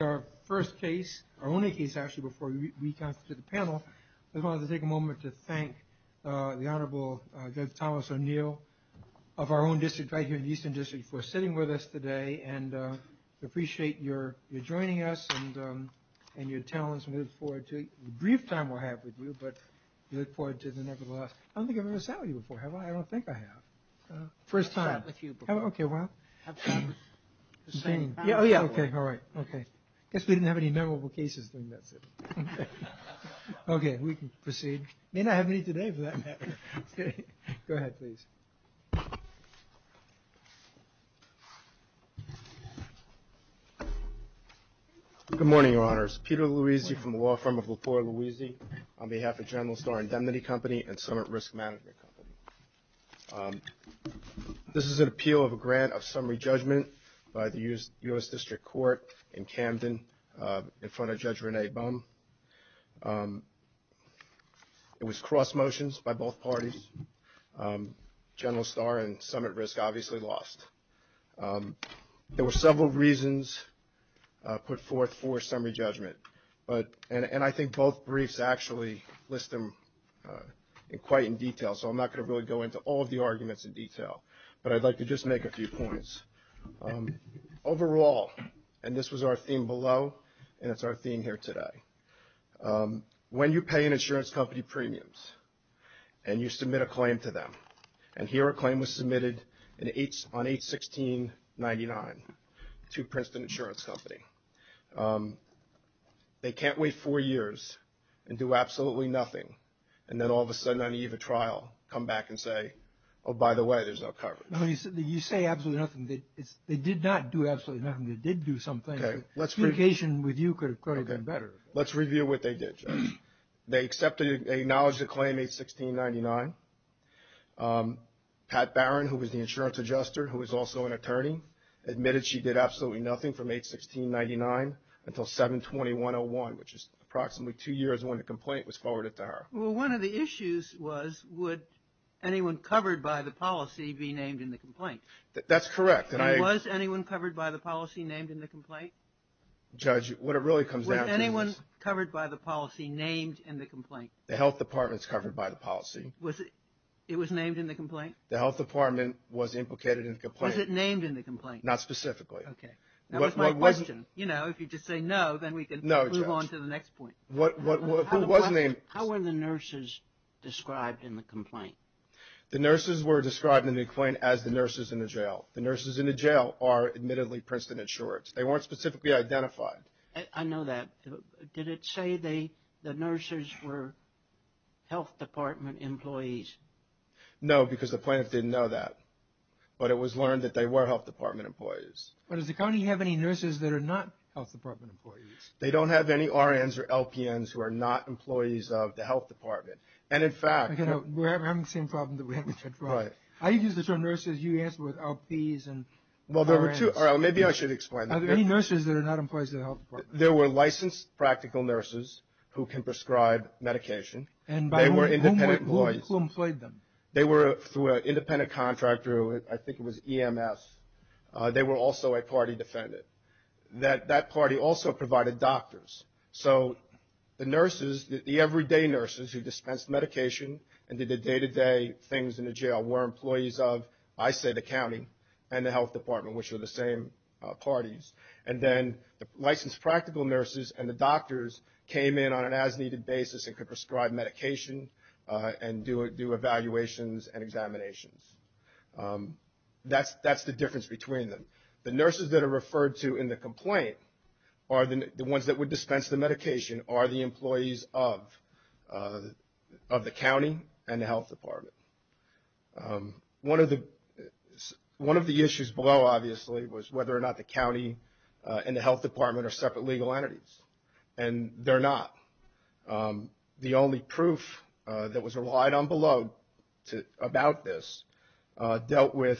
Our first case, our only case actually, before we come to the panel, I wanted to take a moment to thank the Honorable Douglas O'Neill of our own district, right here in the Eastern District, for sitting with us today and appreciate your joining us and your talents. We look forward to a brief time we'll have with you, but we look forward to the nevertheless. I don't think I've ever sat with you before, have I? I don't think I have. First time. I've sat with you before. I guess we didn't have any memorable cases. Okay, we can proceed. May not have any today. Go ahead, please. Good morning, Your Honors. Peter Louisi from the law firm of Latorre-Louisi on behalf of General Starr Indemnity Company and Summit Risk Management Company. This is an appeal of a grant of summary judgment by the U.S. District Court in Camden in front of Judge Rene Bum. It was cross motions by both parties. General Starr and Summit Risk obviously lost. There were several reasons put forth for summary judgment, and I think both briefs actually list them quite in detail, so I'm not going to really go into all of the arguments in detail, but I'd like to just make a few points. Overall, and this was our theme below, and it's our theme here today, when you pay an insurance company premiums and you submit a claim to them, and here a claim was submitted on 8-16-99 to Princeton Insurance Company, they can't wait four years and do absolutely nothing, and then all of a sudden on the eve of trial come back and say, oh, by the way, there's no coverage. You say absolutely nothing. They did not do absolutely nothing. They did do something. Communication with you could have gone better. Let's review what they did, Judge. They acknowledged the claim 8-16-99. Pat Barron, who was the insurance adjuster, who was also an attorney, admitted she did absolutely nothing from 8-16-99 until 7-21-01, which is approximately two years when the complaint was forwarded to her. Well, one of the issues was would anyone covered by the policy be named in the complaint? That's correct. And was anyone covered by the policy named in the complaint? Judge, what it really comes down to is... Was anyone covered by the policy named in the complaint? The health department's covered by the policy. It was named in the complaint? The health department was implicated in the complaint. Was it named in the complaint? Not specifically. Okay. That was my question. You know, if you just say no, then we can move on to the next point. No, Judge. Who was named? How were the nurses described in the complaint? The nurses were described in the complaint as the nurses in the jail. The nurses in the jail are, admittedly, Princeton insured. They weren't specifically identified. I know that. Did it say the nurses were health department employees? No, because the plaintiffs didn't know that. But it was learned that they were health department employees. But does the county have any nurses that are not health department employees? They don't have any RNs or LPNs who are not employees of the health department. And, in fact... We're having the same problem that we had before. Right. I used the term nurses. You answered with LPs and RNs. Well, there were two. All right. Maybe I should explain that. Are there any nurses that are not employees of the health department? There were licensed practical nurses who can prescribe medication. And by whom? They were independent employees. Who employed them? They were through an independent contractor. I think it was EMS. They were also a party defendant. That party also provided doctors. So the nurses, the everyday nurses who dispensed medication and did the day-to-day things in the jail were employees of, I say, the county and the health department, which are the same parties. And then the licensed practical nurses and the doctors came in on an as-needed basis and could prescribe medication and do evaluations and examinations. That's the difference between them. The nurses that are referred to in the complaint are the ones that would dispense the medication, are the employees of the county and the health department. One of the issues below, obviously, was whether or not the county and the health department are separate legal entities. And they're not. The only proof that was relied on below about this dealt with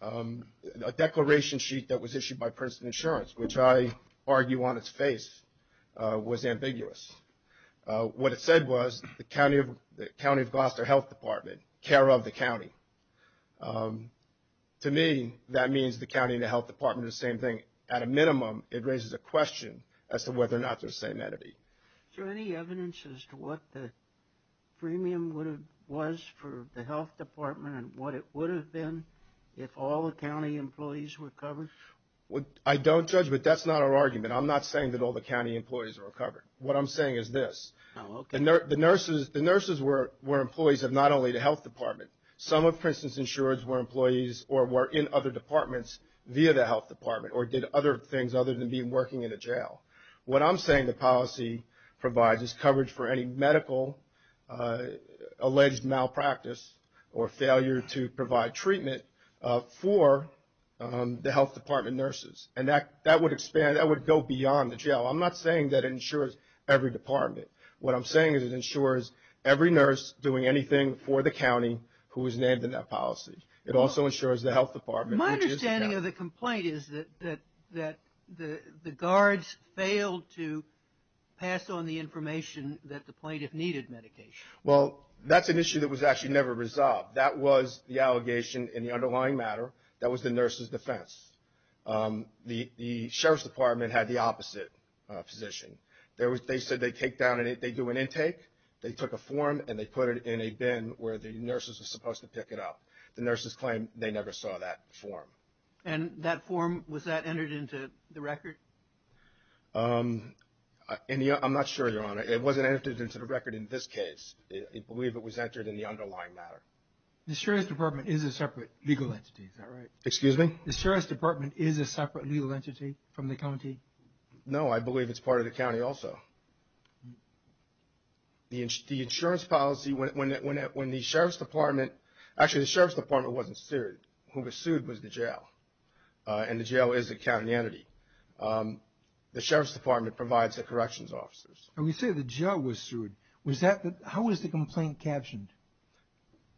a declaration sheet that was issued by Princeton Insurance, which I argue on its face was ambiguous. What it said was the county of Gloucester Health Department, care of the county. To me, that means the county and the health department are the same thing. At a minimum, it raises a question as to whether or not they're the same entity. Is there any evidence as to what the premium was for the health department and what it would have been if all the county employees were covered? I don't judge, but that's not our argument. I'm not saying that all the county employees are covered. What I'm saying is this. The nurses were employees of not only the health department. Some of Princeton's insurers were employees or were in other departments via the health department or did other things other than being working in a jail. What I'm saying the policy provides is coverage for any medical alleged malpractice or failure to provide treatment for the health department nurses. And that would go beyond the jail. I'm not saying that it insures every department. What I'm saying is it insures every nurse doing anything for the county who is named in that policy. It also insures the health department. My understanding of the complaint is that the guards failed to pass on the information that the plaintiff needed medication. Well, that's an issue that was actually never resolved. That was the allegation in the underlying matter. That was the nurse's defense. The sheriff's department had the opposite position. They said they take down and they do an intake. They took a form and they put it in a bin where the nurses were supposed to pick it up. The nurses claimed they never saw that form. And that form, was that entered into the record? I'm not sure, Your Honor. It wasn't entered into the record in this case. I believe it was entered in the underlying matter. The sheriff's department is a separate legal entity, is that right? Excuse me? The sheriff's department is a separate legal entity from the county? No, I believe it's part of the county also. The insurance policy, when the sheriff's department, actually the sheriff's department wasn't sued. Who was sued was the jail. And the jail is a county entity. The sheriff's department provides the corrections officers. When you say the jail was sued, how was the complaint captioned?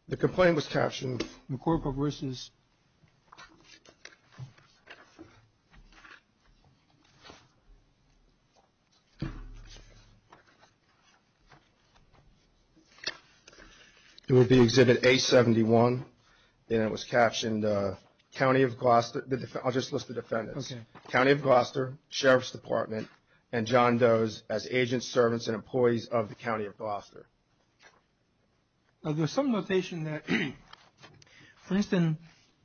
The complaint was captioned, McCorporations. It would be Exhibit A71. And it was captioned, county of Gloucester. I'll just list the defendants. County of Gloucester, sheriff's department, and John Does as agents, servants, and employees of the county of Gloucester. Now, there's some notation that Princeton,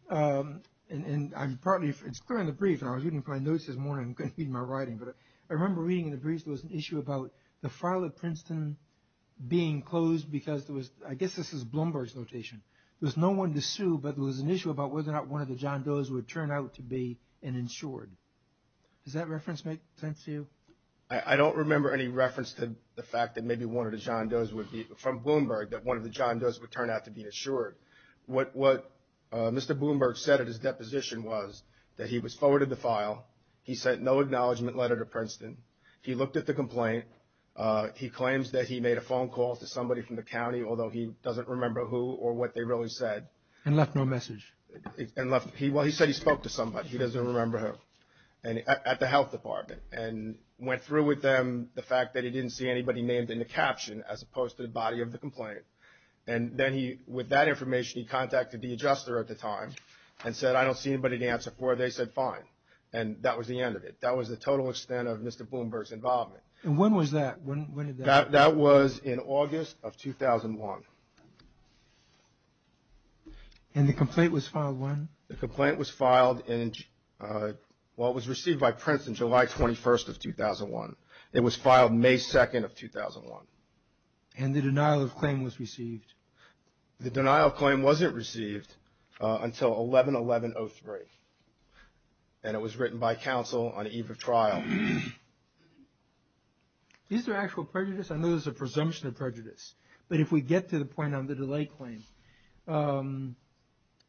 and I'm partly, it's clear in the brief, and I was reading my notes this morning, reading my writing, but I remember reading in the brief there was an issue about the file of Princeton being closed because there was, I guess this is Bloomberg's notation. There was no one to sue, but there was an issue about whether or not one of the John Does would turn out to be an insured. Does that reference make sense to you? I don't remember any reference to the fact that maybe one of the John Does would be, from Bloomberg, that one of the John Does would turn out to be insured. What Mr. Bloomberg said at his deposition was that he was forwarded the file. He sent no acknowledgment letter to Princeton. He looked at the complaint. He claims that he made a phone call to somebody from the county, although he doesn't remember who or what they really said. And left no message. And left, well, he said he spoke to somebody. He doesn't remember who. At the health department. And went through with them the fact that he didn't see anybody named in the caption as opposed to the body of the complaint. And then he, with that information, he contacted the adjuster at the time and said, I don't see anybody to answer for. They said fine. And that was the end of it. That was the total extent of Mr. Bloomberg's involvement. And when was that? That was in August of 2001. And the complaint was filed when? The complaint was filed in, well, it was received by Princeton July 21st of 2001. It was filed May 2nd of 2001. And the denial of claim was received? The denial of claim wasn't received until 11-11-03. And it was written by counsel on eve of trial. Is there actual prejudice? I know there's a presumption of prejudice. But if we get to the point on the delay claim,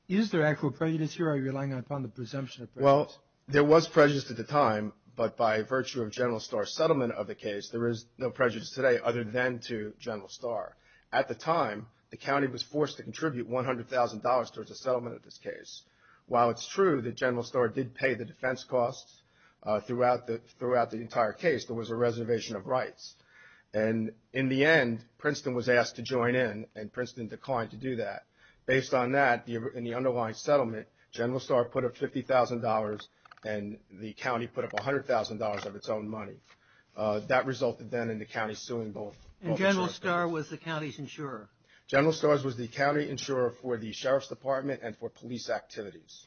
is there actual prejudice here? Are you relying upon the presumption of prejudice? Well, there was prejudice at the time. But by virtue of General Starr's settlement of the case, there is no prejudice today other than to General Starr. At the time, the county was forced to contribute $100,000 towards the settlement of this case. While it's true that General Starr did pay the defense costs throughout the entire case, there was a reservation of rights. And in the end, Princeton was asked to join in, and Princeton declined to do that. Based on that, in the underlying settlement, General Starr put up $50,000, and the county put up $100,000 of its own money. That resulted then in the county suing both insurance companies. And General Starr was the county's insurer? General Starr was the county insurer for the sheriff's department and for police activities.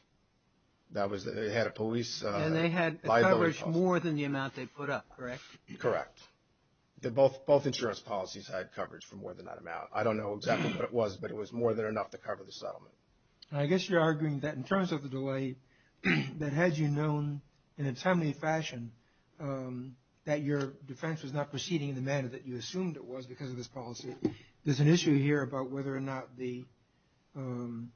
That was, they had a police by the law. And they had coverage more than the amount they put up, correct? Correct. Both insurance policies had coverage for more than that amount. I don't know exactly what it was, but it was more than enough to cover the settlement. I guess you're arguing that in terms of the delay, that had you known in a timely fashion that your defense was not proceeding in the manner that you assumed it was because of this policy, there's an issue here about whether or not the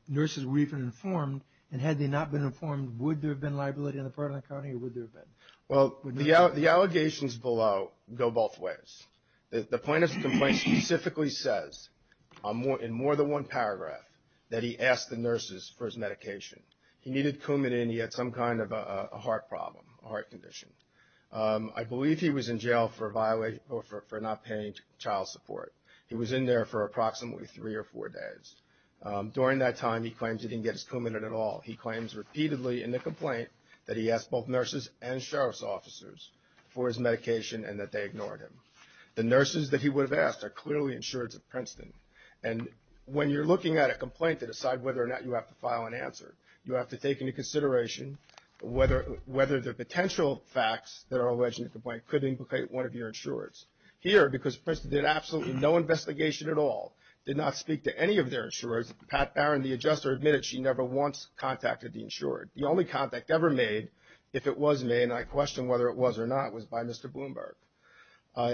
nurses were even informed. And had they not been informed, would there have been liability on the part of the county, or would there have been? Well, the allegations below go both ways. The plaintiff's complaint specifically says in more than one paragraph that he asked the nurses for his medication. He needed Coumadin. He had some kind of a heart problem, a heart condition. I believe he was in jail for not paying child support. He was in there for approximately three or four days. During that time, he claims he didn't get his Coumadin at all. He claims repeatedly in the complaint that he asked both nurses and sheriff's officers for his medication and that they ignored him. The nurses that he would have asked are clearly insurers of Princeton. And when you're looking at a complaint to decide whether or not you have to file an answer, you have to take into consideration whether the potential facts that are alleged in the complaint could implicate one of your insurers. Here, because Princeton did absolutely no investigation at all, did not speak to any of their insurers, Pat Barron, the adjuster, admitted she never once contacted the insurer. The only contact ever made, if it was made, and I question whether it was or not, was by Mr. Bloomberg.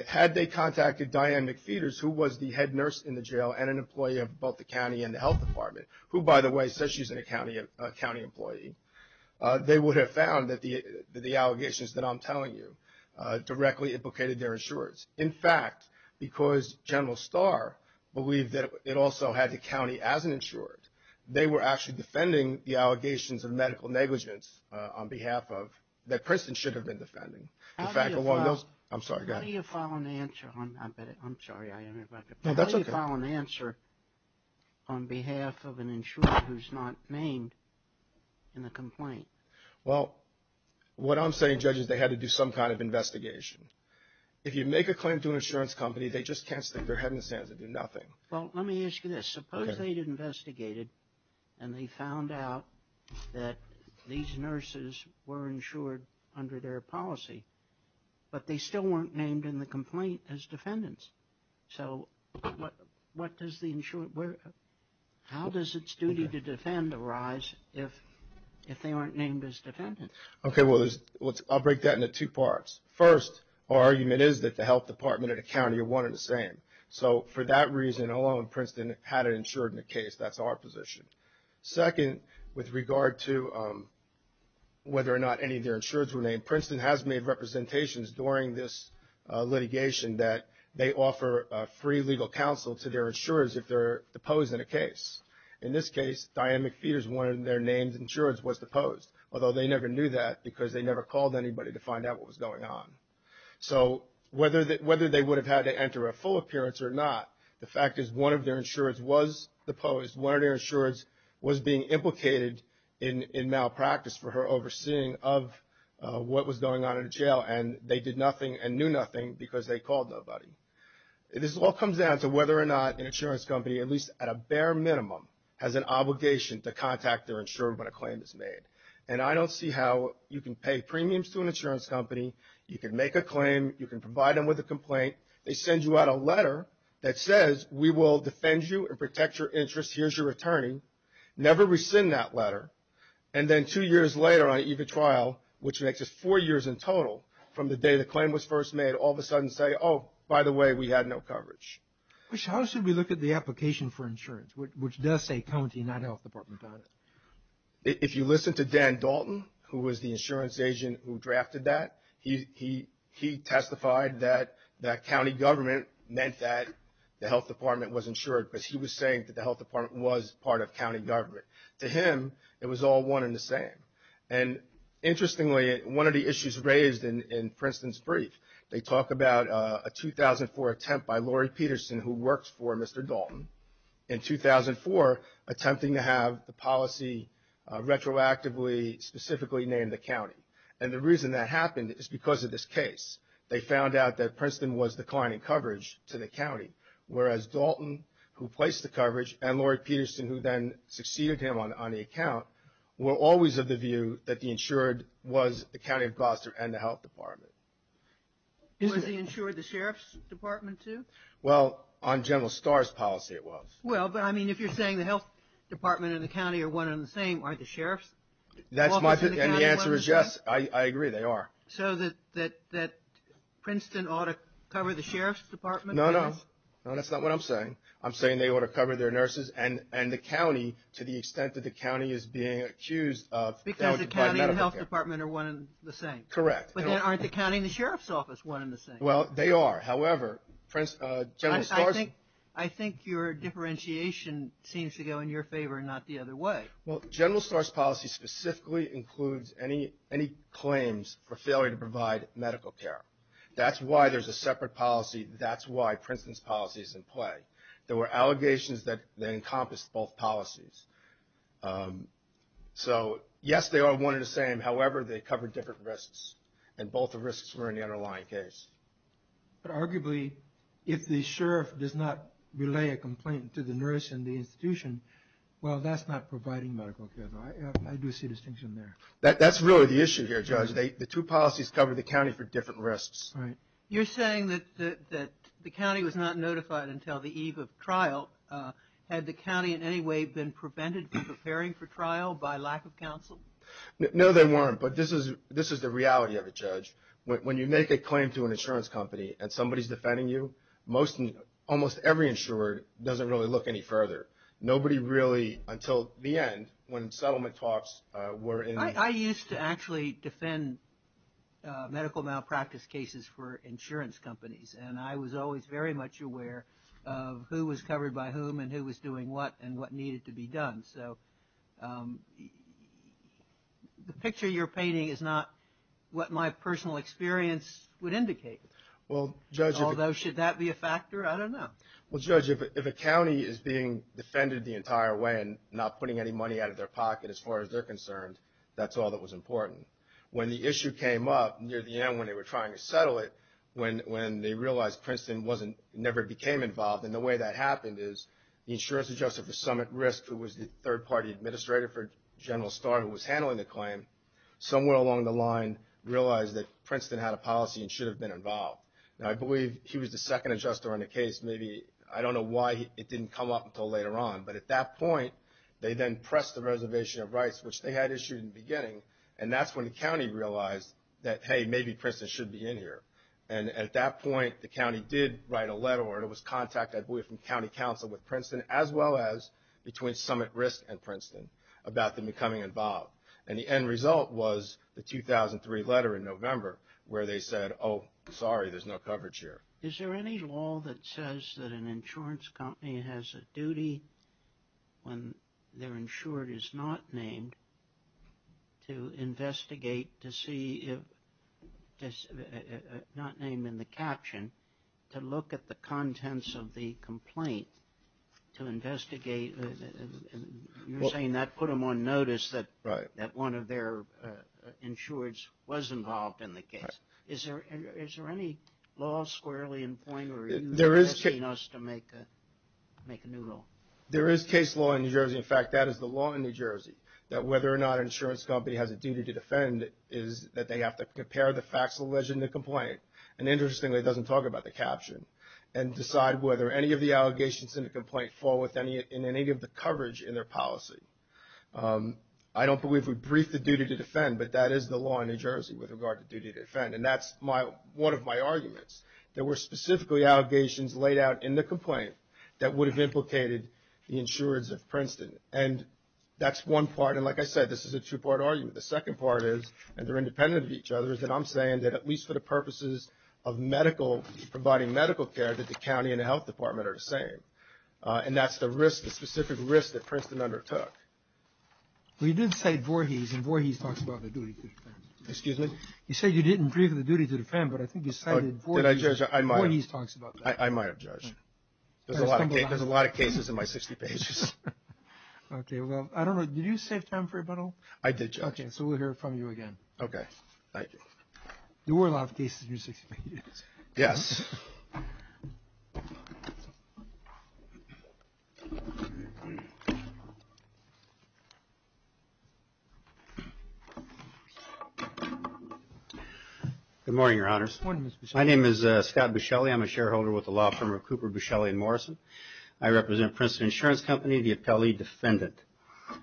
Had they contacted Diane McPheeters, who was the head nurse in the jail and an employee of both the county and the health department, who, by the way, says she's a county employee, they would have found that the allegations that I'm telling you directly implicated their insurers. In fact, because General Starr believed that it also had the county as an insured, they were actually defending the allegations of medical negligence on behalf of, that Princeton should have been defending. In fact, along those, I'm sorry, go ahead. How do you file an answer on, I'm sorry, I interrupted. No, that's okay. How do you file an answer on behalf of an insurer who's not named in the complaint? Well, what I'm saying, Judge, is they had to do some kind of investigation. If you make a claim to an insurance company, they just can't stick their head in the sands and do nothing. Well, let me ask you this. Suppose they investigated and they found out that these nurses were insured under their policy, but they still weren't named in the complaint as defendants. So what does the, how does its duty to defend arise if they aren't named as defendants? Okay, well, I'll break that into two parts. First, our argument is that the Health Department and the county are one and the same. So for that reason alone, Princeton had an insured in the case. That's our position. Second, with regard to whether or not any of their insurers were named, Princeton has made representations during this litigation that they offer free legal counsel to their insurers if they're deposed in a case. In this case, Diane McPhee is one of their names, insured, was deposed, although they never knew that because they never called anybody to find out what was going on. So whether they would have had to enter a full appearance or not, the fact is one of their insurers was deposed. One of their insurers was being implicated in malpractice for her overseeing of what was going on in jail, and they did nothing and knew nothing because they called nobody. This all comes down to whether or not an insurance company, at least at a bare minimum, has an obligation to contact their insurer when a claim is made. And I don't see how you can pay premiums to an insurance company. You can make a claim. You can provide them with a complaint. They send you out a letter that says, we will defend you and protect your interests. Here's your attorney. Never rescind that letter. And then two years later on even trial, which makes it four years in total from the day the claim was first made, all of a sudden say, oh, by the way, we had no coverage. How should we look at the application for insurance, which does say county, not health department? If you listen to Dan Dalton, who was the insurance agent who drafted that, he testified that county government meant that the health department was insured, but he was saying that the health department was part of county government. To him, it was all one and the same. And interestingly, one of the issues raised in Princeton's brief, they talk about a 2004 attempt by Lori Peterson, who works for Mr. Dalton, in 2004 attempting to have the policy retroactively specifically named the county. And the reason that happened is because of this case. They found out that Princeton was declining coverage to the county, whereas Dalton, who placed the coverage, and Lori Peterson, who then succeeded him on the account, were always of the view that the insured was the county of Gloucester and the health department. Was the insured the sheriff's department, too? Well, on General Starr's policy, it was. Well, but I mean, if you're saying the health department and the county are one and the same, aren't the sheriffs? That's my opinion, and the answer is yes. I agree, they are. So that Princeton ought to cover the sheriff's department? No, no. No, that's not what I'm saying. I'm saying they ought to cover their nurses and the county to the extent that the county is being accused of failing to provide medical care. Because the county and the health department are one and the same? Correct. But then aren't the county and the sheriff's office one and the same? Well, they are. However, General Starr's – I think your differentiation seems to go in your favor and not the other way. Well, General Starr's policy specifically includes any claims for failure to provide medical care. That's why there's a separate policy. That's why Princeton's policy is in play. There were allegations that they encompassed both policies. So, yes, they are one and the same. However, they cover different risks, and both the risks were in the underlying case. But arguably, if the sheriff does not relay a complaint to the nurse and the institution, well, that's not providing medical care. I do see a distinction there. That's really the issue here, Judge. The two policies cover the county for different risks. You're saying that the county was not notified until the eve of trial. Had the county in any way been prevented from preparing for trial by lack of counsel? No, they weren't. But this is the reality of it, Judge. When you make a claim to an insurance company and somebody's defending you, almost every insurer doesn't really look any further. Nobody really, until the end, when settlement talks were in the – I used to actually defend medical malpractice cases for insurance companies, and I was always very much aware of who was covered by whom and who was doing what and what needed to be done. So the picture you're painting is not what my personal experience would indicate. Well, Judge – Although, should that be a factor? I don't know. Well, Judge, if a county is being defended the entire way and not putting any money out of their pocket as far as they're concerned, that's all that was important. When the issue came up near the end when they were trying to settle it, when they realized Princeton never became involved, and the way that happened is the insurance adjuster for Summit Risk, who was the third-party administrator for General Starr who was handling the claim, somewhere along the line realized that Princeton had a policy and should have been involved. Now, I believe he was the second adjuster on the case. Maybe – I don't know why it didn't come up until later on. But at that point, they then pressed the reservation of rights, which they had issued in the beginning, and that's when the county realized that, hey, maybe Princeton should be in here. And at that point, the county did write a letter, or it was contact, I believe, from county counsel with Princeton, as well as between Summit Risk and Princeton about them becoming involved. And the end result was the 2003 letter in November where they said, oh, sorry, there's no coverage here. Is there any law that says that an insurance company has a duty, when their insured is not named, to investigate to see if – not name in the caption, to look at the contents of the complaint to investigate – you're saying that put them on notice that one of their insureds was involved in the case. Yes. Is there any law squarely in point, or are you asking us to make a new law? There is case law in New Jersey. In fact, that is the law in New Jersey, that whether or not an insurance company has a duty to defend is that they have to compare the facts alleged in the complaint. And interestingly, it doesn't talk about the caption, and decide whether any of the allegations in the complaint fall within any of the coverage in their policy. I don't believe we've briefed the duty to defend, but that is the law in New Jersey with regard to duty to defend. And that's my – one of my arguments. There were specifically allegations laid out in the complaint that would have implicated the insureds of Princeton. And that's one part. And like I said, this is a two-part argument. The second part is, and they're independent of each other, is that I'm saying that at least for the purposes of medical – providing medical care that the county and the health department are the same. And that's the risk, the specific risk that Princeton undertook. Well, you did cite Voorhees, and Voorhees talks about the duty to defend. Excuse me? You said you didn't brief the duty to defend, but I think you cited Voorhees. Did I judge? I might have. Voorhees talks about that. I might have judged. There's a lot of cases in my 60 pages. Okay, well, I don't know. Did you save time for a bundle? I did judge. Okay, so we'll hear from you again. Okay, thank you. There were a lot of cases in your 60 pages. Yes. Okay. Good morning, Your Honors. Good morning, Mr. Buscelli. My name is Scott Buscelli. I'm a shareholder with the law firm of Cooper, Buscelli & Morrison. I represent Princeton Insurance Company, the appellee defendant.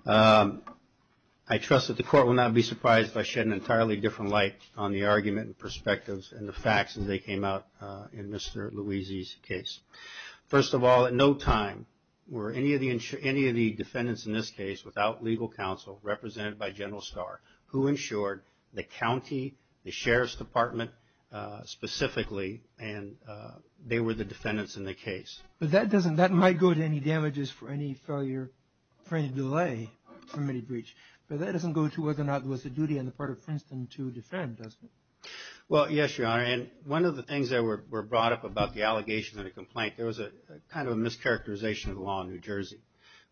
I trust that the Court will not be surprised if I shed an entirely different light on the argument and perspectives and the facts as they came out in Mr. Louisi's case. First of all, at no time were any of the defendants in this case without legal counsel, represented by General Starr, who insured the county, the Sheriff's Department specifically, and they were the defendants in the case. But that doesn't – that might go to any damages for any failure, for any delay from any breach. But that doesn't go to whether or not it was the duty on the part of Princeton to defend, does it? Well, yes, Your Honor. And one of the things that were brought up about the allegations and the complaint, there was a kind of a mischaracterization of the law in New Jersey.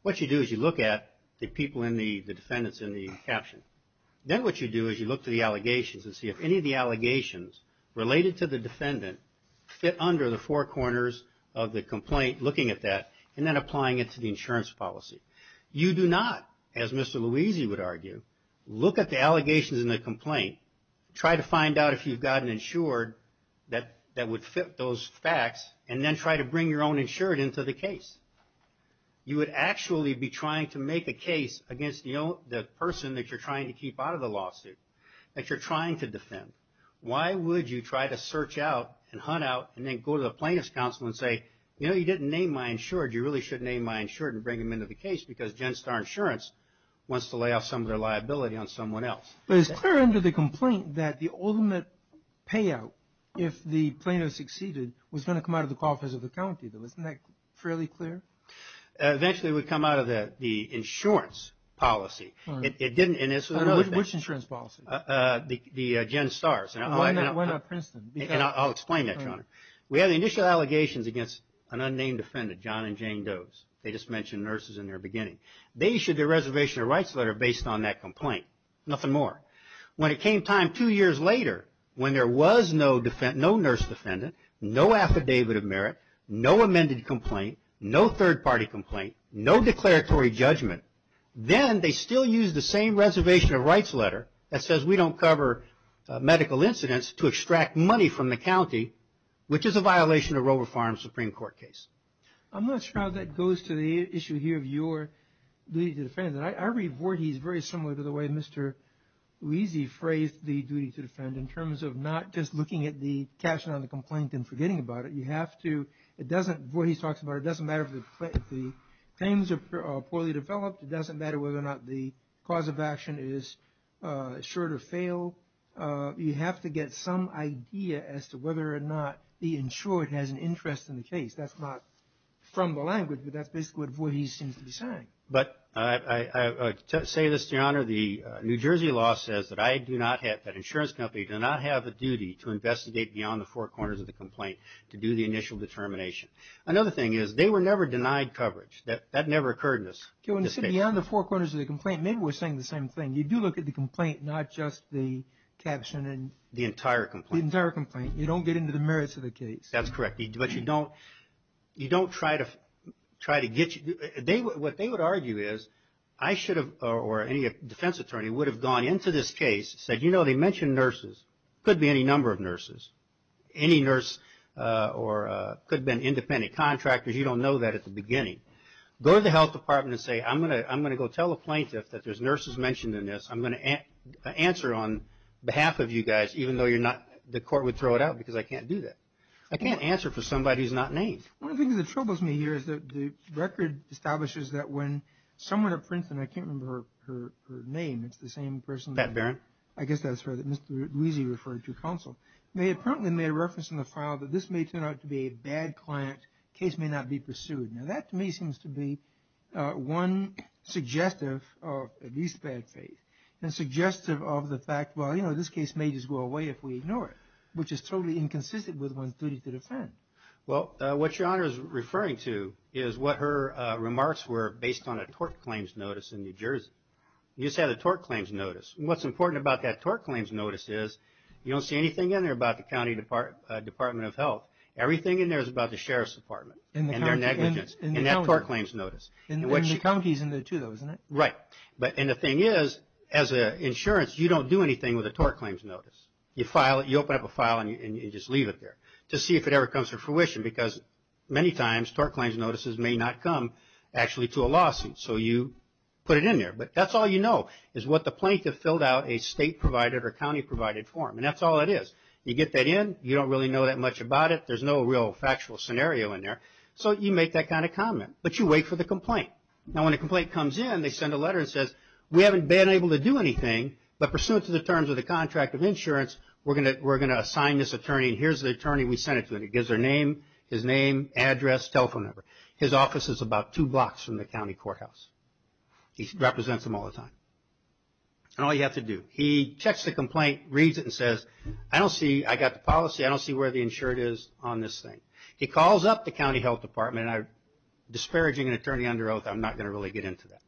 What you do is you look at the people in the – the defendants in the caption. Then what you do is you look to the allegations and see if any of the allegations related to the defendant fit under the four corners of the complaint, looking at that, and then applying it to the insurance policy. You do not, as Mr. Louisi would argue, look at the allegations in the complaint, try to find out if you've got an insured that would fit those facts, and then try to bring your own insured into the case. You would actually be trying to make a case against the person that you're trying to keep out of the lawsuit, that you're trying to defend. Why would you try to search out and hunt out and then go to the plaintiff's counsel and say, you know, you didn't name my insured. You really should name my insured and bring him into the case because Gen Starr Insurance wants to lay off some of their liability on someone else. But it's clear under the complaint that the ultimate payout, if the plaintiff succeeded, was going to come out of the coffers of the county, though. Isn't that fairly clear? Eventually it would come out of the insurance policy. It didn't – Which insurance policy? The Gen Starr's. Why not Princeton? I'll explain that, Your Honor. We had the initial allegations against an unnamed defendant, John and Jane Doe's. They just mentioned nurses in their beginning. They issued their reservation of rights letter based on that complaint. Nothing more. When it came time two years later, when there was no nurse defendant, no affidavit of merit, no amended complaint, no third-party complaint, no declaratory judgment, then they still used the same reservation of rights letter that says we don't cover medical incidents to extract money from the county, which is a violation of Roe v. Farm's Supreme Court case. I'm not sure how that goes to the issue here of your duty to defend. I read Voorhees very similar to the way Mr. Wiese phrased the duty to defend, in terms of not just looking at the caption on the complaint and forgetting about it. You have to – it doesn't – Voorhees talks about it doesn't matter if the claims are poorly developed. It doesn't matter whether or not the cause of action is assured or failed. You have to get some idea as to whether or not the insured has an interest in the case. That's not from the language, but that's basically what Voorhees seems to be saying. But to say this, Your Honor, the New Jersey law says that I do not have – that insurance companies do not have the duty to investigate beyond the four corners of the complaint to do the initial determination. Another thing is they were never denied coverage. That never occurred in this case. When you say beyond the four corners of the complaint, maybe we're saying the same thing. You do look at the complaint, not just the caption and – The entire complaint. The entire complaint. You don't get into the merits of the case. That's correct. But you don't try to get – what they would argue is I should have – or any defense attorney would have gone into this case, said, you know, they mentioned nurses. Could be any number of nurses. Any nurse or could have been independent contractors. You don't know that at the beginning. Go to the health department and say, I'm going to go tell a plaintiff that there's nurses mentioned in this. I'm going to answer on behalf of you guys even though you're not – the court would throw it out because I can't do that. I can't answer for somebody who's not named. One of the things that troubles me here is that the record establishes that when someone at Princeton – I can't remember her name. It's the same person that – Pat Barron. I guess that's her that Mr. Luizzi referred to counsel. They apparently made a reference in the file that this may turn out to be a bad client. Case may not be pursued. Now, that to me seems to be one suggestive of at least bad faith. And suggestive of the fact, well, you know, this case may just go away if we ignore it, which is totally inconsistent with 132 to defend. Well, what Your Honor is referring to is what her remarks were based on a tort claims notice in New Jersey. You said a tort claims notice. What's important about that tort claims notice is you don't see anything in there about the county department of health. Everything in there is about the sheriff's department and their negligence in that tort claims notice. And the county is in there too, though, isn't it? Right. And the thing is, as an insurance, you don't do anything with a tort claims notice. You file it. You open up a file and you just leave it there to see if it ever comes to fruition, because many times tort claims notices may not come actually to a lawsuit. So you put it in there. But that's all you know is what the plaintiff filled out a state-provided or county-provided form. And that's all it is. You get that in. You don't really know that much about it. There's no real factual scenario in there. So you make that kind of comment. But you wait for the complaint. Now, when a complaint comes in, they send a letter that says, we haven't been able to do anything, but pursuant to the terms of the contract of insurance, we're going to assign this attorney. And here's the attorney we sent it to. And it gives their name, his name, address, telephone number. His office is about two blocks from the county courthouse. He represents them all the time. And all you have to do, he checks the complaint, reads it, and says, I don't see ñ I got the policy. I don't see where the insured is on this thing. He calls up the county health department. I'm disparaging an attorney under oath. I'm not going to really get into that.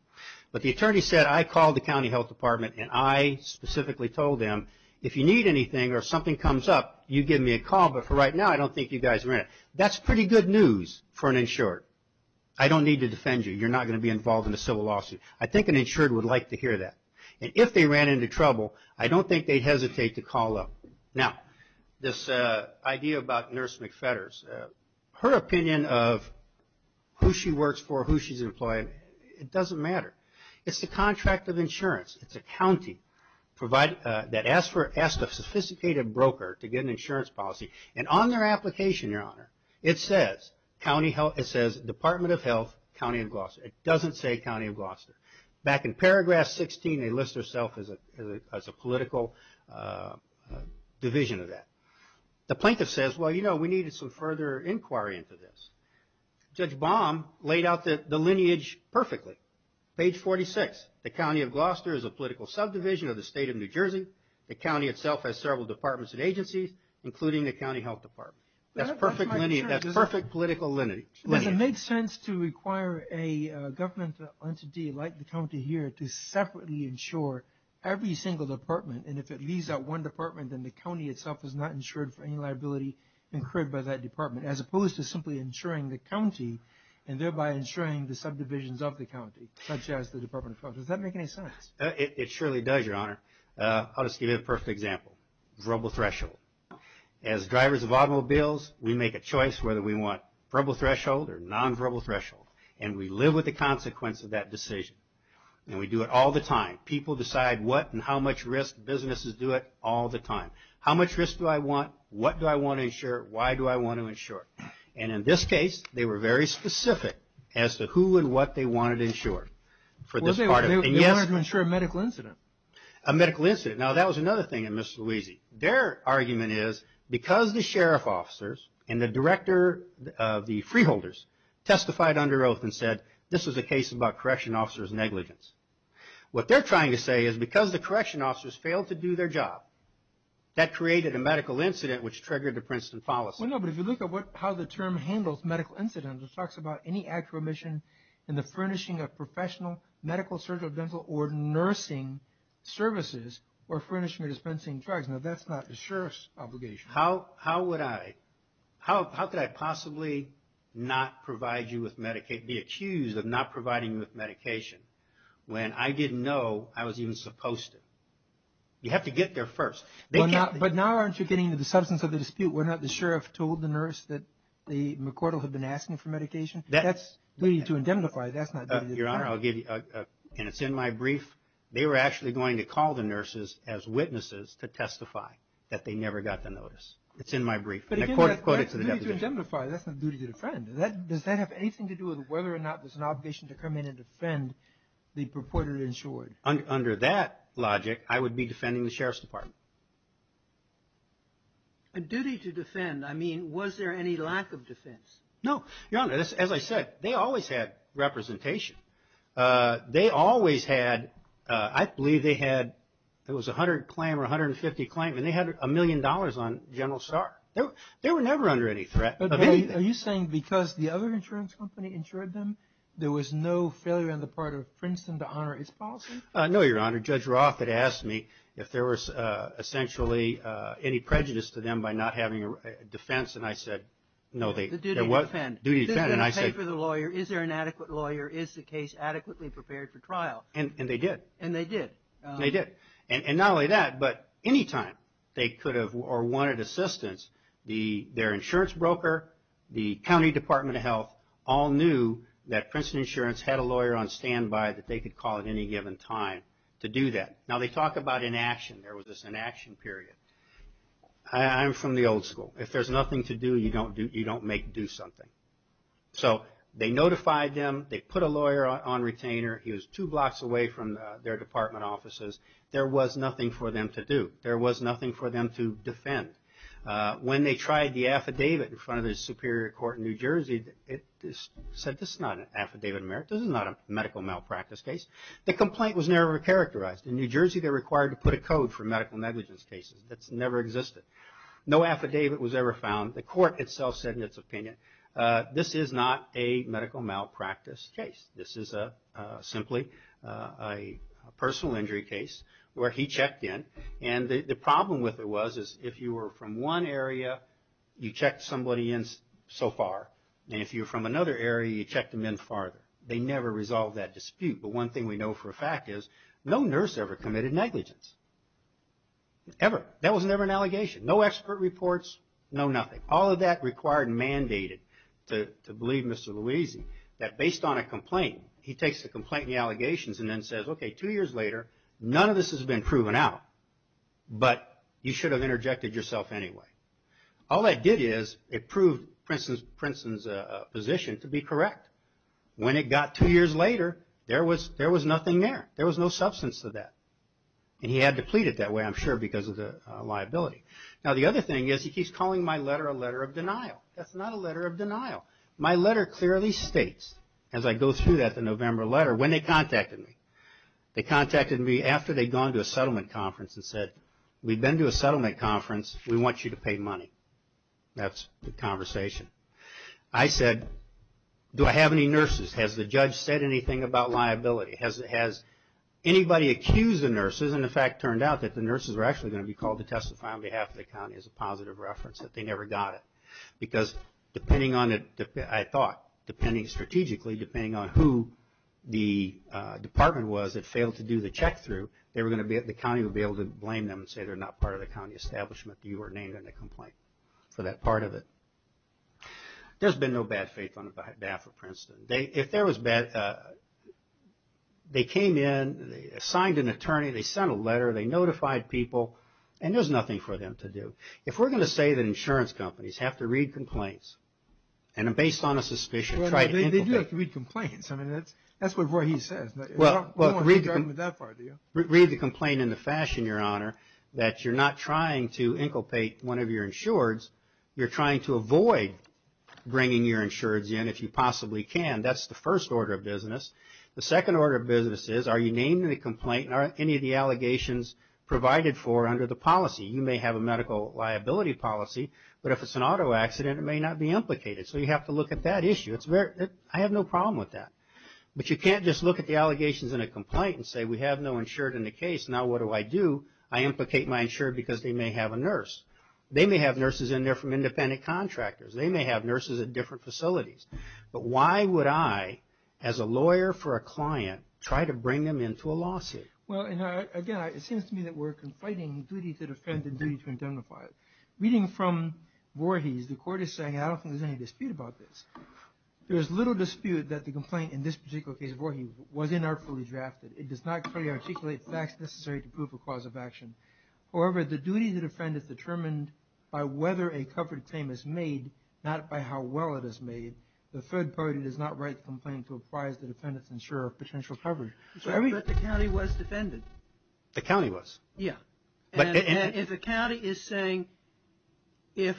But the attorney said, I called the county health department, and I specifically told them, if you need anything or something comes up, you give me a call. But for right now, I don't think you guys are in it. That's pretty good news for an insured. I don't need to defend you. You're not going to be involved in a civil lawsuit. I think an insured would like to hear that. And if they ran into trouble, I don't think they'd hesitate to call up. Now, this idea about Nurse McFetters, her opinion of who she works for, who she's employing, it doesn't matter. It's the contract of insurance. It's a county that asked a sophisticated broker to get an insurance policy. And on their application, Your Honor, it says, Department of Health, County of Gloucester. It doesn't say County of Gloucester. Back in paragraph 16, they list themselves as a political division of that. The plaintiff says, well, you know, we needed some further inquiry into this. Judge Baum laid out the lineage perfectly. Page 46, the County of Gloucester is a political subdivision of the State of New Jersey. The county itself has several departments and agencies, including the County Health Department. That's perfect political lineage. It makes sense to require a government entity like the county here to separately insure every single department. And if it leaves out one department, then the county itself is not insured for any liability incurred by that department, as opposed to simply insuring the county and thereby insuring the subdivisions of the county, such as the Department of Health. Does that make any sense? It surely does, Your Honor. I'll just give you a perfect example. Verbal threshold. As drivers of automobiles, we make a choice whether we want verbal threshold or nonverbal threshold. And we live with the consequence of that decision. And we do it all the time. People decide what and how much risk. Businesses do it all the time. How much risk do I want? What do I want to insure? Why do I want to insure? And in this case, they were very specific as to who and what they wanted to insure. They wanted to insure a medical incident. A medical incident. Now, that was another thing in Miss Louisi. Their argument is because the sheriff officers and the director of the freeholders testified under oath and said, this was a case about correction officers' negligence. What they're trying to say is because the correction officers failed to do their job, that created a medical incident which triggered the Princeton fallacy. Well, no, but if you look at how the term handles medical incidents, it talks about any act of omission in the furnishing of professional medical, surgical, dental, or nursing services or furnishing or dispensing drugs. Now, that's not the sheriff's obligation. How would I? How could I possibly not provide you with medication, be accused of not providing you with medication, when I didn't know I was even supposed to? You have to get there first. But now aren't you getting to the substance of the dispute? Were not the sheriff told the nurse that McCordell had been asking for medication? That's duty to indemnify. That's not duty to defend. Your Honor, I'll give you, and it's in my brief, they were actually going to call the nurses as witnesses to testify that they never got the notice. It's in my brief, and I quote it to the deputation. That's duty to indemnify. That's not duty to defend. Does that have anything to do with whether or not there's an obligation to come in and defend the purported insured? Under that logic, I would be defending the sheriff's department. Duty to defend. I mean, was there any lack of defense? No. Your Honor, as I said, they always had representation. They always had, I believe they had, it was 100 claim or 150 claim, and they had a million dollars on General Starr. They were never under any threat of anything. Are you saying because the other insurance company insured them, there was no failure on the part of Princeton to honor its policy? No, Your Honor. Judge Roth had asked me if there was essentially any prejudice to them by not having a defense, and I said no. Duty to defend. Duty to defend, and I said. Did they pay for the lawyer? Is there an adequate lawyer? Is the case adequately prepared for trial? And they did. And they did. They did. And not only that, but any time they could have or wanted assistance, their insurance broker, the County Department of Health, all knew that Princeton Insurance had a lawyer on standby that they could call at any given time to do that. Now, they talk about inaction. There was this inaction period. I'm from the old school. If there's nothing to do, you don't make do something. So they notified them. They put a lawyer on retainer. He was two blocks away from their department offices. There was nothing for them to do. When they tried the affidavit in front of the Superior Court in New Jersey, it said this is not an affidavit of merit. This is not a medical malpractice case. The complaint was never characterized. In New Jersey, they're required to put a code for medical negligence cases. That's never existed. No affidavit was ever found. The court itself said in its opinion, this is not a medical malpractice case. This is simply a personal injury case where he checked in, and the problem with it was if you were from one area, you checked somebody in so far, and if you were from another area, you checked them in farther. They never resolved that dispute. But one thing we know for a fact is no nurse ever committed negligence, ever. That was never an allegation. No expert reports, no nothing. All of that required and mandated to believe Mr. Luisi that based on a complaint, he takes the complaint and the allegations and then says, okay, two years later, none of this has been proven out, but you should have interjected yourself anyway. All that did is it proved Princeton's position to be correct. When it got two years later, there was nothing there. There was no substance to that, and he had to plead it that way, I'm sure, because of the liability. Now, the other thing is he keeps calling my letter a letter of denial. That's not a letter of denial. My letter clearly states, as I go through that November letter, when they contacted me. They contacted me after they'd gone to a settlement conference and said, we've been to a settlement conference. We want you to pay money. That's the conversation. I said, do I have any nurses? Has the judge said anything about liability? Has anybody accused the nurses? And the fact turned out that the nurses were actually going to be called to testify on behalf of the county as a positive reference, that they never got it. Because depending on, I thought, depending strategically, depending on who the department was that failed to do the check through, the county would be able to blame them and say they're not part of the county establishment. You were named in the complaint for that part of it. There's been no bad faith on behalf of Princeton. They came in, signed an attorney, they sent a letter, they notified people, and there's nothing for them to do. If we're going to say that insurance companies have to read complaints, and based on a suspicion. They do have to read complaints. I mean, that's what Roy Heath says. Read the complaint in the fashion, Your Honor, that you're not trying to inculpate one of your insureds. You're trying to avoid bringing your insureds in if you possibly can. That's the first order of business. The second order of business is, are you named in the complaint? Are any of the allegations provided for under the policy? You may have a medical liability policy, but if it's an auto accident it may not be implicated. So you have to look at that issue. I have no problem with that. But you can't just look at the allegations in a complaint and say we have no insured in the case, now what do I do? I implicate my insured because they may have a nurse. They may have nurses in there from independent contractors. They may have nurses at different facilities. Well, again, it seems to me that we're conflating duty to defend and duty to indemnify. Reading from Voorhees, the court is saying, I don't think there's any dispute about this. There's little dispute that the complaint in this particular case of Voorhees was inartfully drafted. It does not clearly articulate facts necessary to prove a cause of action. However, the duty to defend is determined by whether a covered claim is made, not by how well it is made. The third party does not write the complaint to apprise the defendant's insurer of potential coverage. But the county was defended. The county was? Yeah. And if the county is saying, if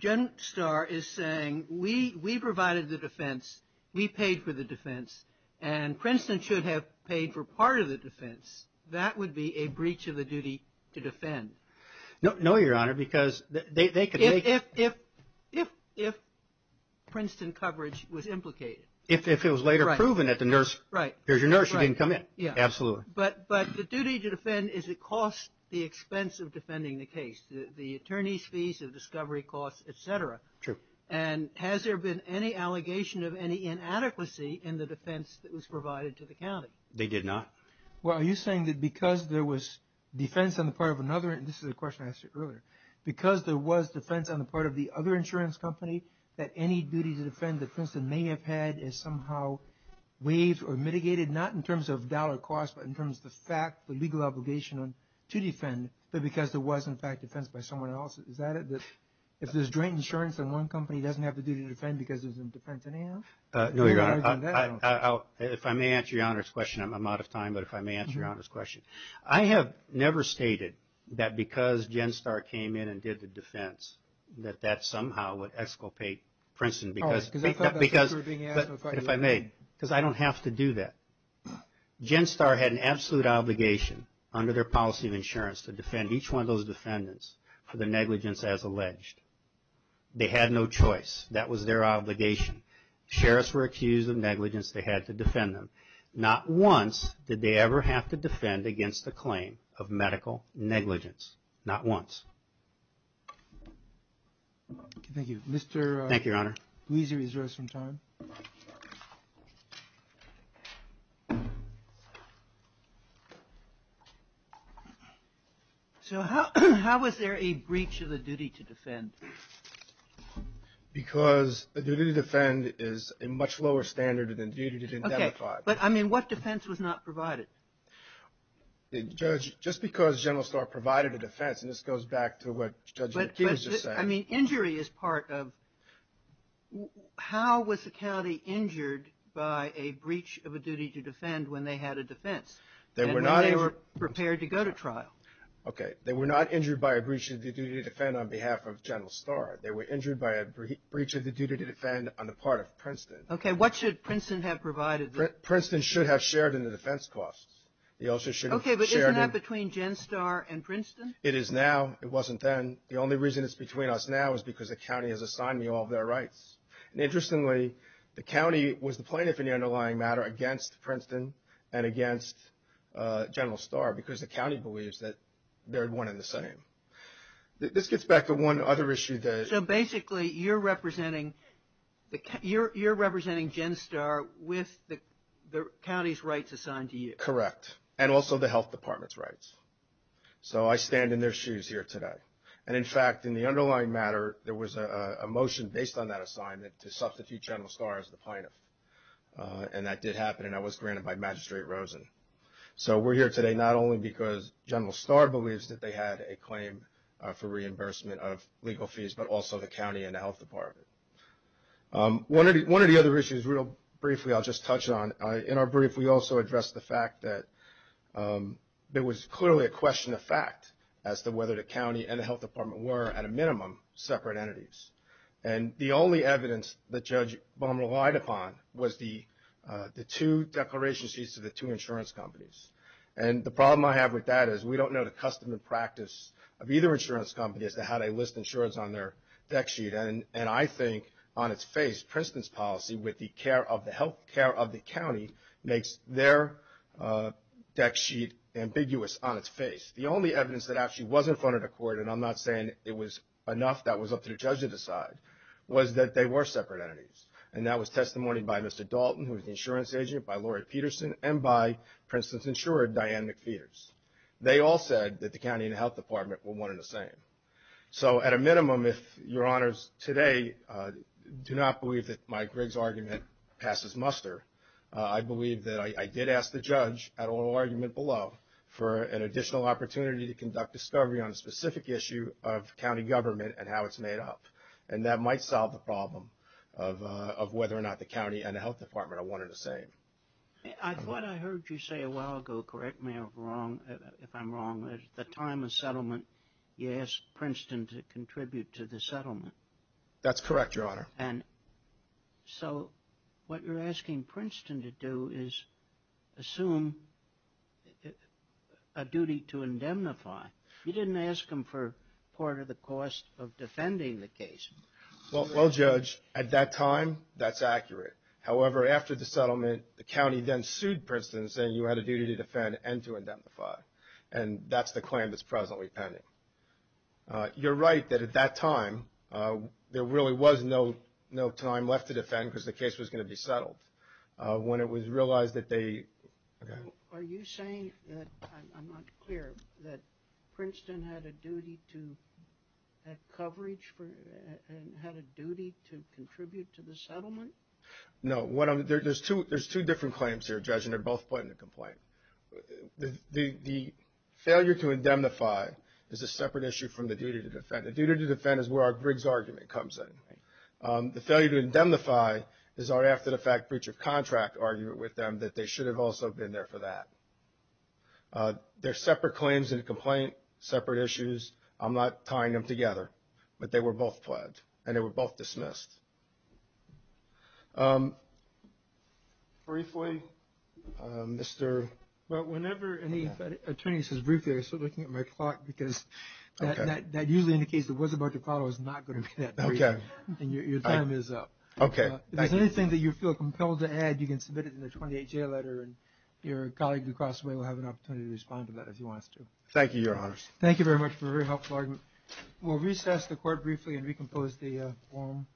GenStar is saying, we provided the defense, we paid for the defense, and Princeton should have paid for part of the defense, that would be a breach of the duty to defend. No, Your Honor, because they could take… If Princeton coverage was implicated. If it was later proven that the nurse, here's your nurse, she didn't come in. Yeah. Absolutely. But the duty to defend is it costs the expense of defending the case, the attorney's fees, the discovery costs, et cetera. True. And has there been any allegation of any inadequacy in the defense that was provided to the county? They did not. Well, are you saying that because there was defense on the part of another, and this is a question I asked you earlier, because there was defense on the part of the other insurance company that any duty to defend that Princeton may have had is somehow waived or mitigated, not in terms of dollar costs, but in terms of the fact, the legal obligation to defend, but because there was, in fact, defense by someone else. Is that it? If there's joint insurance and one company doesn't have the duty to defend because there's no defense in hand? No, Your Honor. If I may answer Your Honor's question, I'm out of time, but if I may answer Your Honor's question. I have never stated that because GenStar came in and did the defense that that somehow would escapade Princeton because… If I may, because I don't have to do that. GenStar had an absolute obligation under their policy of insurance to defend each one of those defendants for the negligence as alleged. They had no choice. That was their obligation. Sheriffs were accused of negligence. They had to defend them. Not once did they ever have to defend against the claim of medical negligence. Not once. Thank you. Thank you, Your Honor. Mr. Gleeser is resting time. So how was there a breach of the duty to defend? Because the duty to defend is a much lower standard than the duty to identify. Okay. But, I mean, what defense was not provided? Judge, just because GenStar provided a defense, and this goes back to what Judge McKeon just said. I mean, injury is part of how was the county injured by a breach of a duty to defend when they had a defense and when they were prepared to go to trial? Okay. They were not injured by a breach of the duty to defend on behalf of General Star. They were injured by a breach of the duty to defend on the part of Princeton. Okay. What should Princeton have provided? Princeton should have shared in the defense costs. Okay. But isn't that between GenStar and Princeton? It is now. It wasn't then. The only reason it's between us now is because the county has assigned me all of their rights. And interestingly, the county was the plaintiff in the underlying matter against Princeton and against General Star because the county believes that they're one and the same. This gets back to one other issue. So basically you're representing GenStar with the county's rights assigned to you. Correct. And also the health department's rights. So I stand in their shoes here today. And, in fact, in the underlying matter, there was a motion based on that assignment to substitute General Star as the plaintiff. And that did happen, and that was granted by Magistrate Rosen. So we're here today not only because General Star believes that they had a claim for reimbursement of legal fees, but also the county and the health department. One of the other issues, real briefly, I'll just touch on. In our brief, we also addressed the fact that there was clearly a question of fact as to whether the county and the health department were, at a minimum, separate entities. And the only evidence that Judge Baum relied upon was the two declaration sheets of the two insurance companies. And the problem I have with that is we don't know the custom and practice of either insurance company as to how they list insurance on their deck sheet. And I think, on its face, Princeton's policy with the healthcare of the county makes their deck sheet ambiguous on its face. The only evidence that actually was in front of the court, and I'm not saying it was enough that it was up to the judge to decide, was that they were separate entities. And that was testimony by Mr. Dalton, who was the insurance agent, by Laurie Peterson, and by Princeton's insurer, Diane McPheeters. They all said that the county and the health department were one and the same. So, at a minimum, if Your Honors today do not believe that Mike Riggs' argument passes muster, I believe that I did ask the judge at oral argument below for an additional opportunity to conduct discovery on a specific issue of county government and how it's made up. And that might solve the problem of whether or not the county and the health department are one and the same. I thought I heard you say a while ago, correct me if I'm wrong, that at the time of settlement, you asked Princeton to contribute to the settlement. That's correct, Your Honor. And so, what you're asking Princeton to do is assume a duty to indemnify. You didn't ask him for part of the cost of defending the case. Well, Judge, at that time, that's accurate. However, after the settlement, the county then sued Princeton, saying you had a duty to defend and to indemnify. And that's the claim that's presently pending. You're right that at that time, there really was no time left to defend because the case was going to be settled. When it was realized that they... Are you saying that, I'm not clear, that Princeton had a duty to have coverage and had a duty to contribute to the settlement? No. There's two different claims here, Judge, and they're both put in a complaint. The failure to indemnify is a separate issue from the duty to defend. The duty to defend is where our Briggs argument comes in. The failure to indemnify is our after-the-fact breach of contract argument with them that they should have also been there for that. They're separate claims in a complaint, separate issues. I'm not tying them together, but they were both pledged, and they were both dismissed. Briefly, Mr. Well, whenever any attorney says briefly, I start looking at my clock because that usually indicates that what's about to follow is not going to be that brief. Okay. And your time is up. Okay. If there's anything that you feel compelled to add, you can submit it in the 28-J letter, and your colleague across the way will have an opportunity to respond to that if he wants to. Thank you, Your Honors. Thank you very much for a very helpful argument. We'll recess the court briefly and recompose the forum.